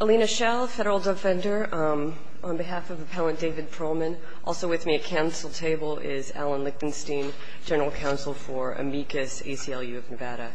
Alina Schell, Federal Defender, on behalf of Appellant David Perelman. Also with me at Council table is Alan Lichtenstein, General Counsel for Amicus, ACLU of Nevada.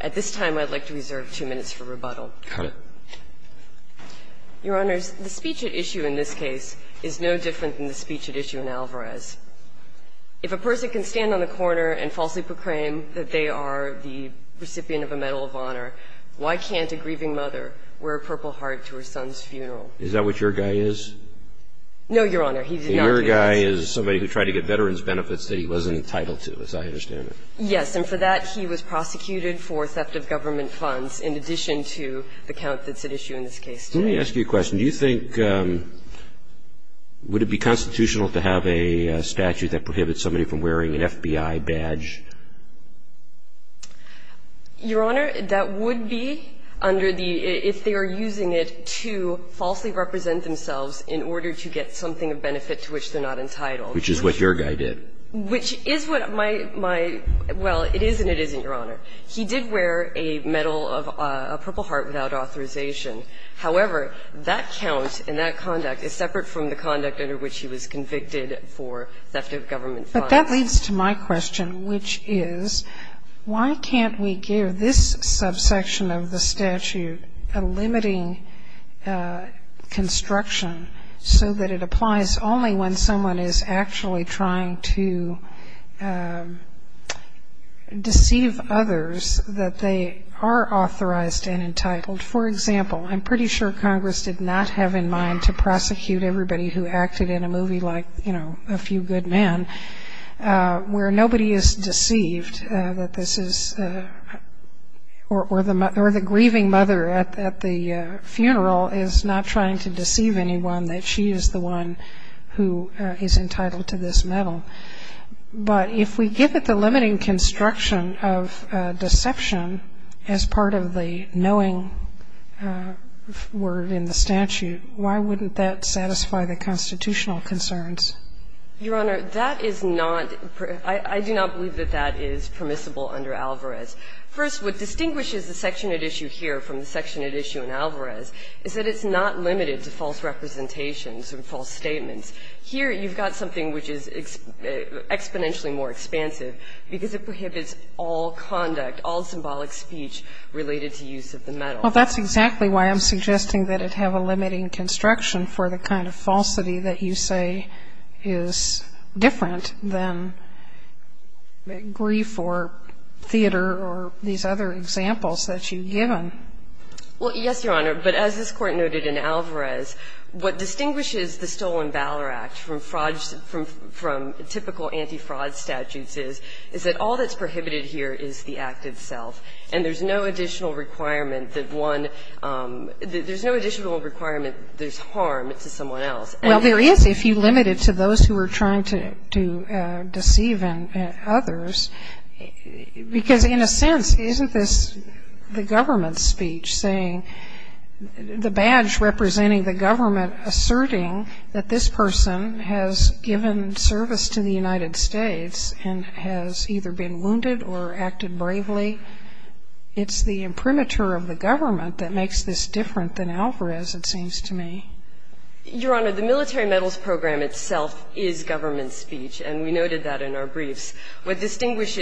At this time, I'd like to reserve two minutes for rebuttal. Your Honors, the speech at issue in this case is no different than the speech at issue in Alvarez. If a person can stand on the corner and falsely proclaim that they are the recipient of a Medal of Honor, why can't a grieving mother wear a purple heart to her son's funeral? Is that what your guy is? No, Your Honor. He did not do that. Your guy is somebody who tried to get veterans' benefits that he wasn't entitled to, as I understand it. Yes. And for that, he was prosecuted for theft of government funds in addition to the count that's at issue in this case. Let me ask you a question. Do you think – would it be constitutional to have a statute that prohibits somebody from wearing an FBI badge? Your Honor, that would be under the – if they are using it to falsely represent themselves in order to get something of benefit to which they're not entitled. Which is what your guy did. Which is what my – my – well, it is and it isn't, Your Honor. He did wear a medal of – a purple heart without authorization. However, that count and that conduct is separate from the conduct under which he was convicted for theft of government funds. That leads to my question, which is, why can't we give this subsection of the statute a limiting construction so that it applies only when someone is actually trying to deceive others that they are authorized and entitled? For example, I'm pretty sure Congress did not have in mind to prosecute everybody who acted in a movie like, you know, A Few Good Men, where nobody is deceived that this is – or the grieving mother at the funeral is not trying to deceive anyone that she is the one who is entitled to this medal. But if we give it the limiting construction of deception as part of the knowing word in the statute, why wouldn't that satisfy the constitutional concerns? Your Honor, that is not – I do not believe that that is permissible under Alvarez. First, what distinguishes the section at issue here from the section at issue in Alvarez is that it's not limited to false representations or false statements. Here you've got something which is exponentially more expansive because it prohibits all conduct, all symbolic speech related to use of the medal. Well, that's exactly why I'm suggesting that it have a limiting construction for the kind of falsity that you say is different than grief or theater or these other examples that you've given. Well, yes, Your Honor. But as this Court noted in Alvarez, what distinguishes the Stolen Valor Act from anti-fraud – from typical anti-fraud statutes is, is that all that's prohibited here is the act itself, and there's no additional requirement that one – there's no additional requirement there's harm to someone else. Well, there is if you limit it to those who are trying to deceive others, because in a sense, isn't this the government's speech saying the badge representing the government asserting that this person has given service to the United States and has either been wounded or acted bravely? It's the imprimatur of the government that makes this different than Alvarez, it seems to me. Your Honor, the Military Medals Program itself is government speech, and we noted that in our briefs. I mean, it's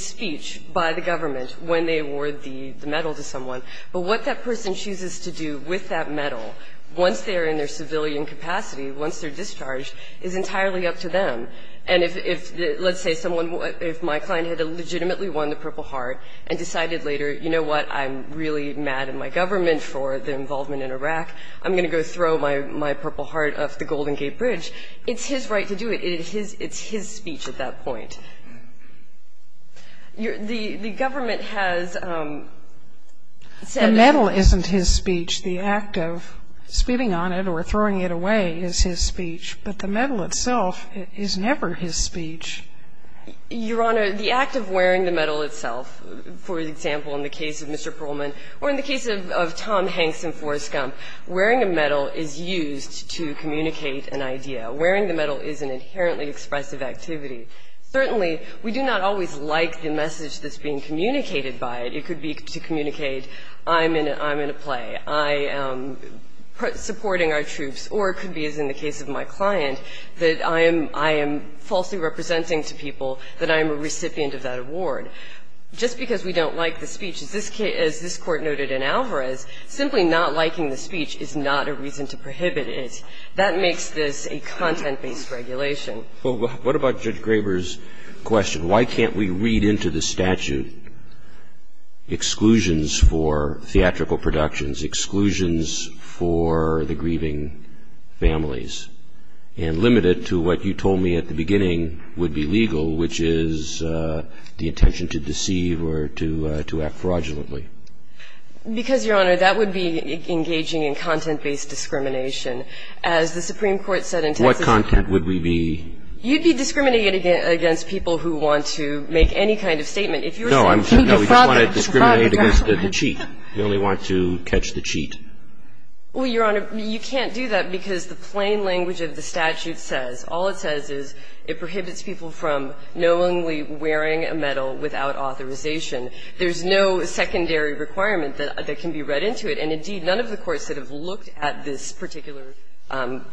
speech by the government when they award the medal to someone. But what that person chooses to do with that medal, once they're in their civilian capacity, once they're discharged, is entirely up to them. And if, let's say, someone – if my client had legitimately won the Purple Heart and decided later, you know what, I'm really mad at my government for the involvement in Iraq, I'm going to go throw my Purple Heart off the Golden Gate Bridge, it's his right to do it. It's his speech at that point. The government has said that the medal isn't his speech. The act of spitting on it or throwing it away is his speech. But the medal itself is never his speech. Your Honor, the act of wearing the medal itself, for example, in the case of Mr. Perlman or in the case of Tom Hanks and Forrest Gump, wearing a medal is used to communicate an idea. Wearing the medal is an inherently expressive activity. Certainly, we do not always like the message that's being communicated by it. It could be to communicate I'm in a play, I am supporting our troops, or it could be, as in the case of my client, that I am – I am falsely representing to people that I am a recipient of that award. Just because we don't like the speech, as this Court noted in Alvarez, simply not liking the speech is not a reason to prohibit it. That makes this a content-based regulation. Well, what about Judge Graber's question? Why can't we read into the statute exclusions for theatrical productions, exclusions for the grieving families, and limit it to what you told me at the beginning would be legal, which is the intention to deceive or to – to act fraudulently? Because, Your Honor, that would be engaging in content-based discrimination. As the Supreme Court said in Texas – What content would we be – You'd be discriminating against people who want to make any kind of statement. If you were saying – No, I'm – no, we just want to discriminate against the cheat. We only want to catch the cheat. Well, Your Honor, you can't do that because the plain language of the statute says – all it says is it prohibits people from knowingly wearing a medal without authorization. There's no secondary requirement that can be read into it. And, indeed, none of the courts that have looked at this particular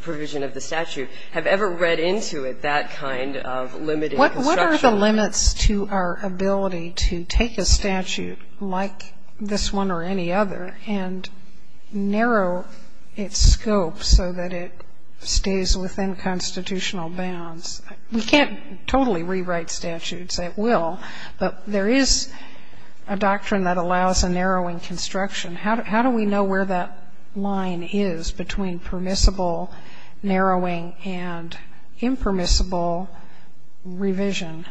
provision of the statute have ever read into it that kind of limited construction. What are the limits to our ability to take a statute like this one or any other and narrow its scope so that it stays within constitutional bounds? We can't totally rewrite statutes at will, but there is a doctrine that allows a narrowing construction. How do we know where that line is between permissible narrowing and impermissible revision?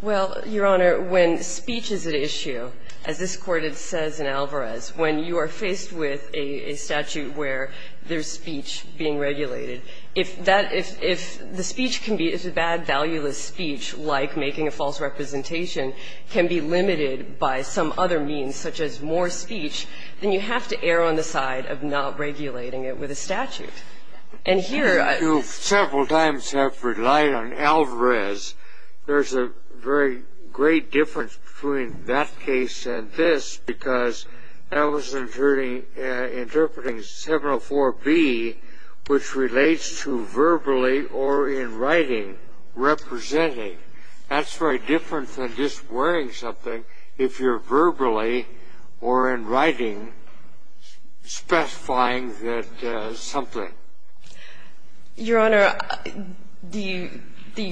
Well, Your Honor, when speech is at issue, as this Court says in Alvarez, when you are faced with a statute where there's speech being regulated, if that – if the speech can be – if a bad, valueless speech like making a false representation can be limited by some other means, such as more speech, then you have to err on the side of not regulating it with a statute. And here – You several times have relied on Alvarez. There's a very great difference between that case and this because I was interpreting 704B, which relates to verbally or in writing, representing. That's very different than just wearing something if you're verbally or in writing specifying that something. Your Honor, the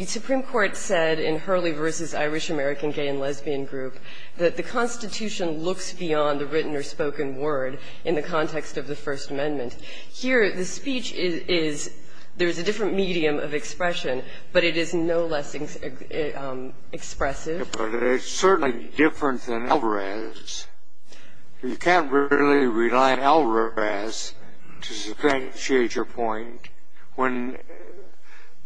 Supreme Court said in Hurley v. Irish American Gay and Lesbian Group that the Constitution looks beyond the written or spoken word in the context of the First Amendment. Here, the speech is – there's a different medium of expression, but it is no less expressive. But it's certainly different than Alvarez. You can't really rely on Alvarez to substantiate your point when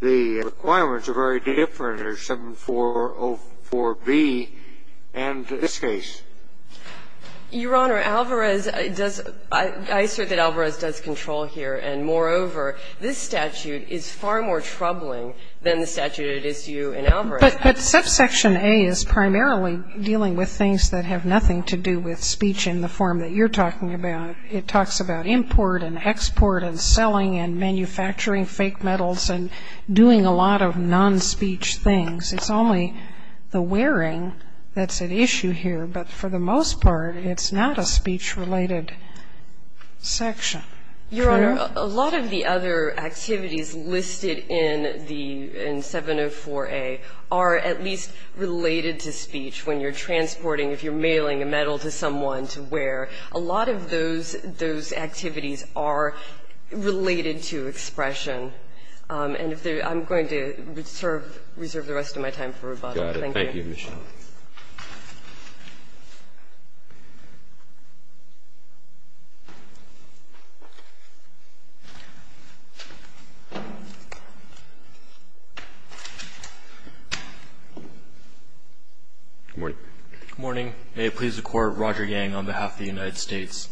the requirements are very different under 7404B and this case. Your Honor, Alvarez does – I assert that Alvarez does control here. And moreover, this statute is far more troubling than the statute at issue in Alvarez. But subsection A is primarily dealing with things that have nothing to do with speech in the form that you're talking about. It talks about import and export and selling and manufacturing fake metals and doing a lot of non-speech things. It's only the wearing that's at issue here, but for the most part, it's not a speech-related section. Your Honor, a lot of the other activities listed in the – in 704A are at least related to speech when you're transporting, if you're mailing a metal to someone to wear. A lot of those activities are related to expression. And if there – I'm going to reserve the rest of my time for rebuttal. Thank you. Thank you, Your Honor. Good morning. Good morning. May it please the Court, Roger Yang on behalf of the United States.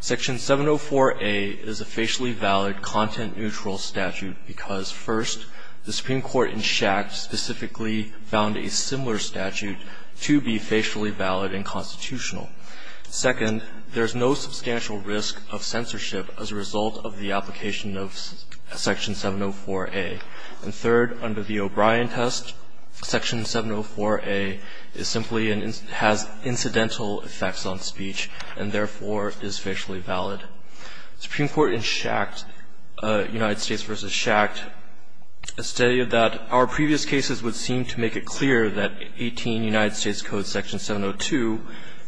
Section 704A is a facially valid, content-neutral statute because, first, the Supreme Court has ruled that it is a facially valid, content-neutral statute to be facially valid and constitutional. Second, there's no substantial risk of censorship as a result of the application of Section 704A. And third, under the O'Brien test, Section 704A is simply an – has incidental effects on speech and, therefore, is facially valid. The Supreme Court in Schacht, United States v. Schacht, a study of that, our previous cases would seem to make it clear that 18 United States Code, Section 702,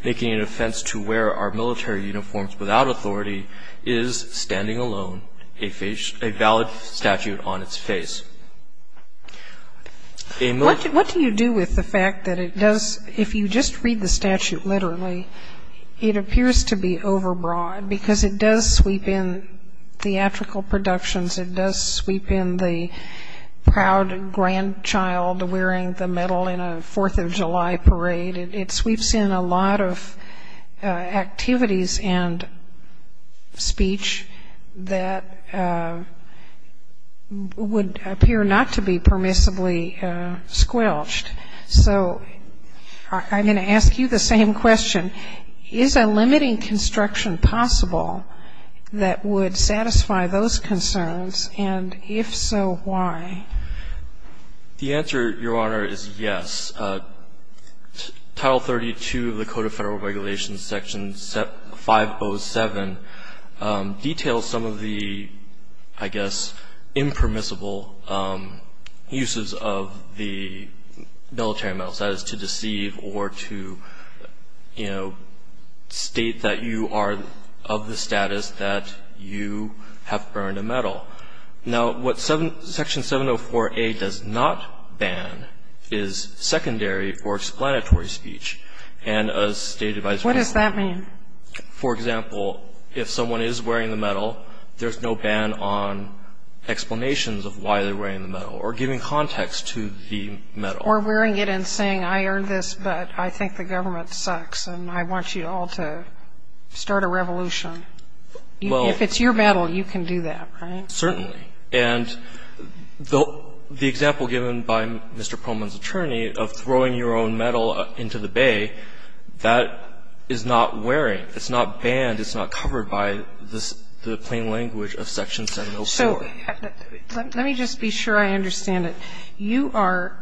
making an offense to wear our military uniforms without authority, is, standing alone, a valid statute on its face. A military uniform without authority is a facially valid statute on its face. What do you do with the fact that it does – if you just read the statute literally, it appears to be overbroad because it does sweep in theatrical productions, it does sweep in the proud grandchild wearing the medal in a 4th of July parade, it sweeps in a lot of activities and speech that would appear not to be permissibly squelched. So I'm going to ask you the same question. Is a limiting construction possible that would satisfy those concerns? And if so, why? The answer, Your Honor, is yes. Title 32 of the Code of Federal Regulations, Section 507, details some of the, I guess, impermissible uses of the military medal status to deceive or to, you know, state that you are of the status that you have earned a medal. Now, what Section 704a does not ban is secondary or explanatory speech. And as stated by Justice Breyer. What does that mean? For example, if someone is wearing the medal, there's no ban on wearing the medal or giving explanations of why they're wearing the medal or giving context to the medal. Or wearing it and saying, I earned this, but I think the government sucks and I want you all to start a revolution. If it's your medal, you can do that, right? Certainly. And the example given by Mr. Pullman's attorney of throwing your own medal into the bay, that is not wearing, it's not banned, it's not covered by the plain language of Section 704a. So let me just be sure I understand it. You are,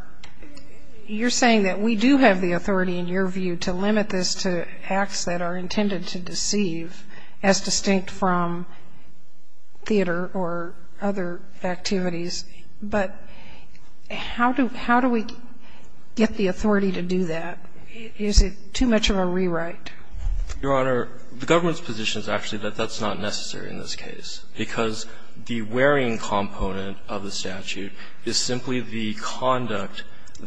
you're saying that we do have the authority in your view to limit this to acts that are intended to deceive as distinct from theater or other activities. But how do we get the authority to do that? Is it too much of a rewrite? Your Honor, the government's position is actually that that's not necessary in this case, because the wearing component of the statute is simply the conduct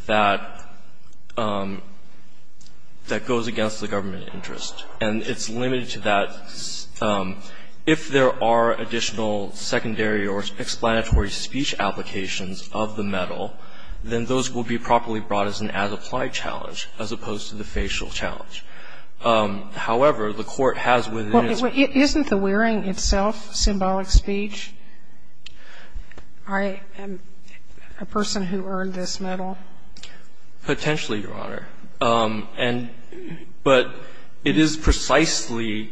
that goes against the government interest. And it's limited to that. If there are additional secondary or explanatory speech applications of the medal, then those will be properly brought as an as-applied challenge, as opposed to the facial challenge. However, the Court has within its power to do that. So I'm not sure that that's symbolic speech. I am a person who earned this medal. Potentially, Your Honor. And but it is precisely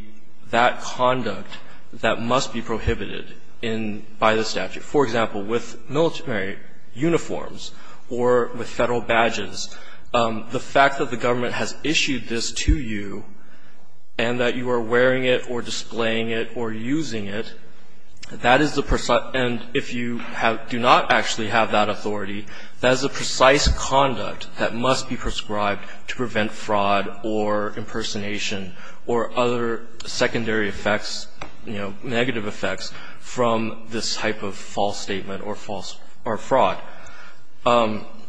that conduct that must be prohibited in by the statute. For example, with military uniforms or with Federal badges, the fact that the government has issued this to you and that you are wearing it or displaying it or using it, that is the precise. And if you do not actually have that authority, that is the precise conduct that must be prescribed to prevent fraud or impersonation or other secondary effects, you know, negative effects from this type of false statement or fraud.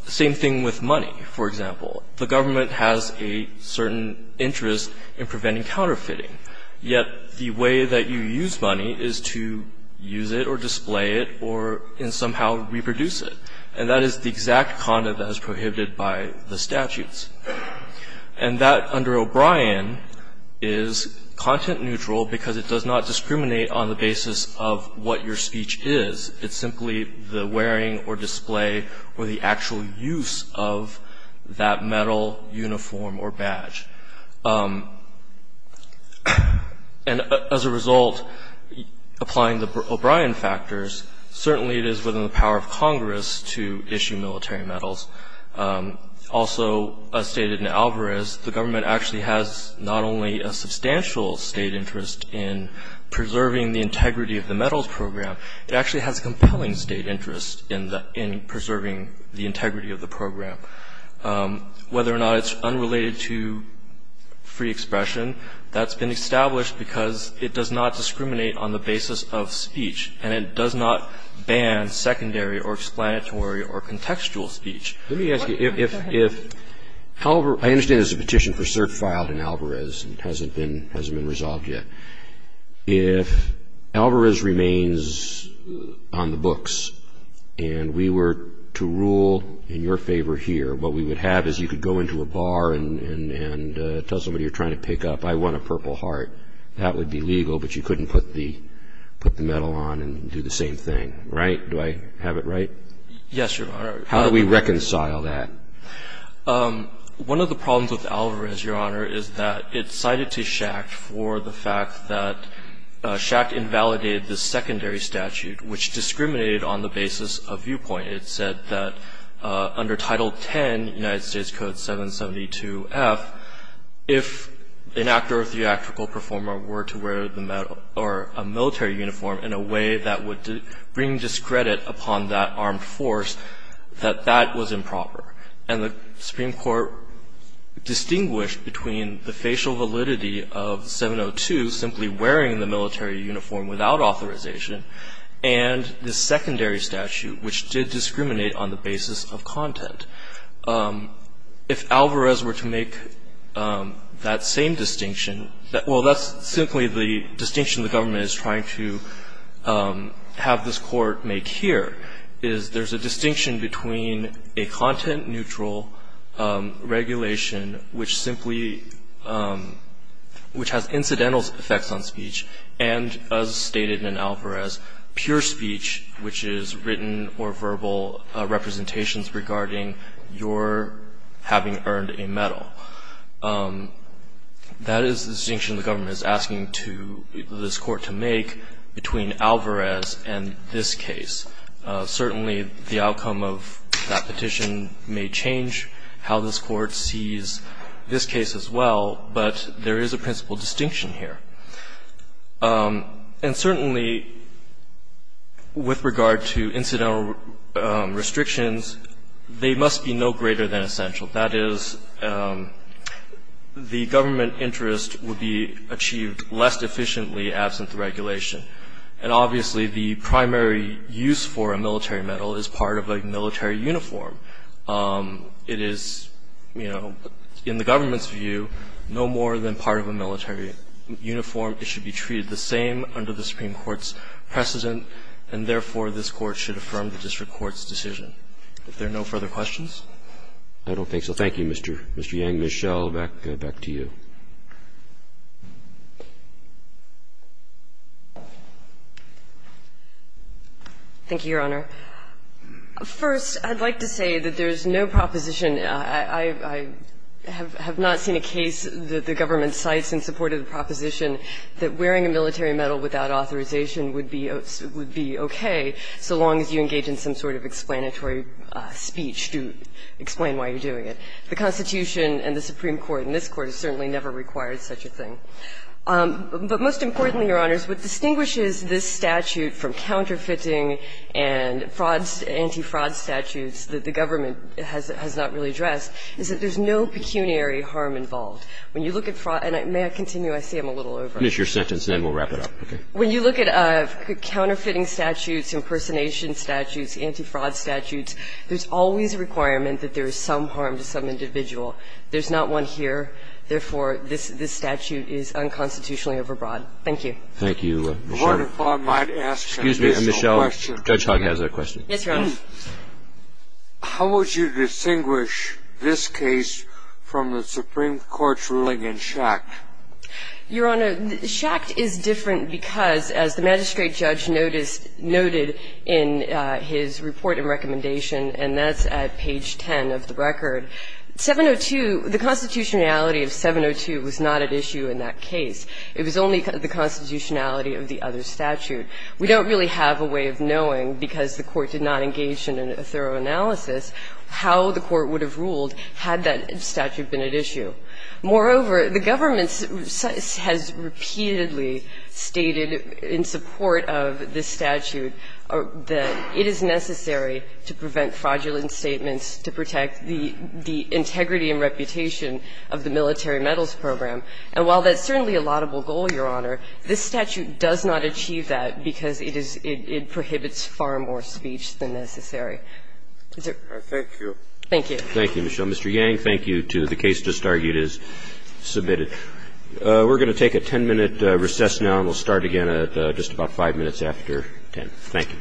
Same thing with money, for example. The government has a certain interest in preventing counterfeiting. Yet the way that you use money is to use it or display it or somehow reproduce it. And that is the exact conduct that is prohibited by the statutes. And that, under O'Brien, is content neutral because it does not discriminate on the basis of what your speech is. It's simply the wearing or display or the actual use of that medal, uniform, or badge. And as a result, applying the O'Brien factors, certainly it is within the power of Congress to issue military medals. Also, as stated in Alvarez, the government actually has not only a substantial state interest in preserving the integrity of the medals program, it actually has compelling state interest in preserving the integrity of the program. Whether or not it's unrelated to free expression, that's been established because it does not discriminate on the basis of speech and it does not ban secondary or explanatory or contextual speech. Let me ask you, if Alvarez – I understand there's a petition for cert filed in Alvarez and it hasn't been resolved yet. If Alvarez remains on the books and we were to rule in your favor here, what we would have is you could go into a bar and tell somebody you're trying to pick up, I won a Purple Heart. That would be legal, but you couldn't put the medal on and do the same thing, right? Do I have it right? Yes, Your Honor. How do we reconcile that? One of the problems with Alvarez, Your Honor, is that it's cited to Schacht for the fact that Schacht invalidated the secondary statute, which discriminated on the basis of viewpoint. It said that under Title X, United States Code 772-F, if an actor or theatrical performer were to wear a military uniform in a way that would bring discredit upon that armed force, that that was improper. And the Supreme Court distinguished between the facial validity of 702, simply wearing the military uniform without authorization, and the secondary statute, which did discriminate on the basis of content. If Alvarez were to make that same distinction – well, that's simply the distinction the government is trying to have this court make here, is there's a distinction between a content-neutral regulation, which has incidental effects on speech, and, as stated in Alvarez, pure speech, which is written or verbal representations regarding your having earned a medal. That is the distinction the government is asking this court to make between Alvarez and this case. Certainly, the outcome of that petition may change how this court sees this case as well, but there is a principal distinction here. And certainly, with regard to incidental restrictions, they must be no greater than essential. That is, the government interest would be achieved less efficiently without the absence of regulation. And obviously, the primary use for a military medal is part of a military uniform. It is, you know, in the government's view, no more than part of a military uniform. It should be treated the same under the Supreme Court's precedent, and therefore, this Court should affirm the district court's decision. If there are no further questions? I don't think so. Thank you, Mr. Yang. Ms. Schell, back to you. Thank you, Your Honor. First, I'd like to say that there's no proposition. I have not seen a case that the government cites in support of the proposition that wearing a military medal without authorization would be okay, so long as you engage in some sort of explanatory speech to explain why you're doing it. The Constitution and the Supreme Court and this Court have certainly never required such a thing. But most importantly, Your Honors, what distinguishes this statute from counterfeiting and frauds, anti-fraud statutes that the government has not really addressed is that there's no pecuniary harm involved. When you look at fraud, and may I continue? I see I'm a little over. Finish your sentence, and then we'll wrap it up. Okay. When you look at counterfeiting statutes, impersonation statutes, anti-fraud statutes, there's always a requirement that there is some harm to some individual. There's not one here. Therefore, this statute is unconstitutionally overbroad. Thank you. Thank you, Michelle. Your Honor, if I might ask a personal question. Excuse me, Michelle. Judge Hogg has a question. Yes, Your Honor. How would you distinguish this case from the Supreme Court's ruling in Schacht? Your Honor, Schacht is different because, as the magistrate judge noted in his report and recommendation, and that's at page 10 of the record, 702, the constitutionality of 702 was not at issue in that case. It was only the constitutionality of the other statute. We don't really have a way of knowing, because the Court did not engage in a thorough analysis, how the Court would have ruled had that statute been at issue. Moreover, the government has repeatedly stated in support of this statute that it is necessary to prevent fraudulent statements to protect the integrity and reputation of the military medals program. And while that's certainly a laudable goal, Your Honor, this statute does not achieve that because it is – it prohibits far more speech than necessary. Thank you. Thank you. Thank you, Michelle. Mr. Yang, thank you to the case just argued as submitted. We're going to take a 10-minute recess now, and we'll start again at just about 5 minutes after 10. Thank you. Thank you. All rise.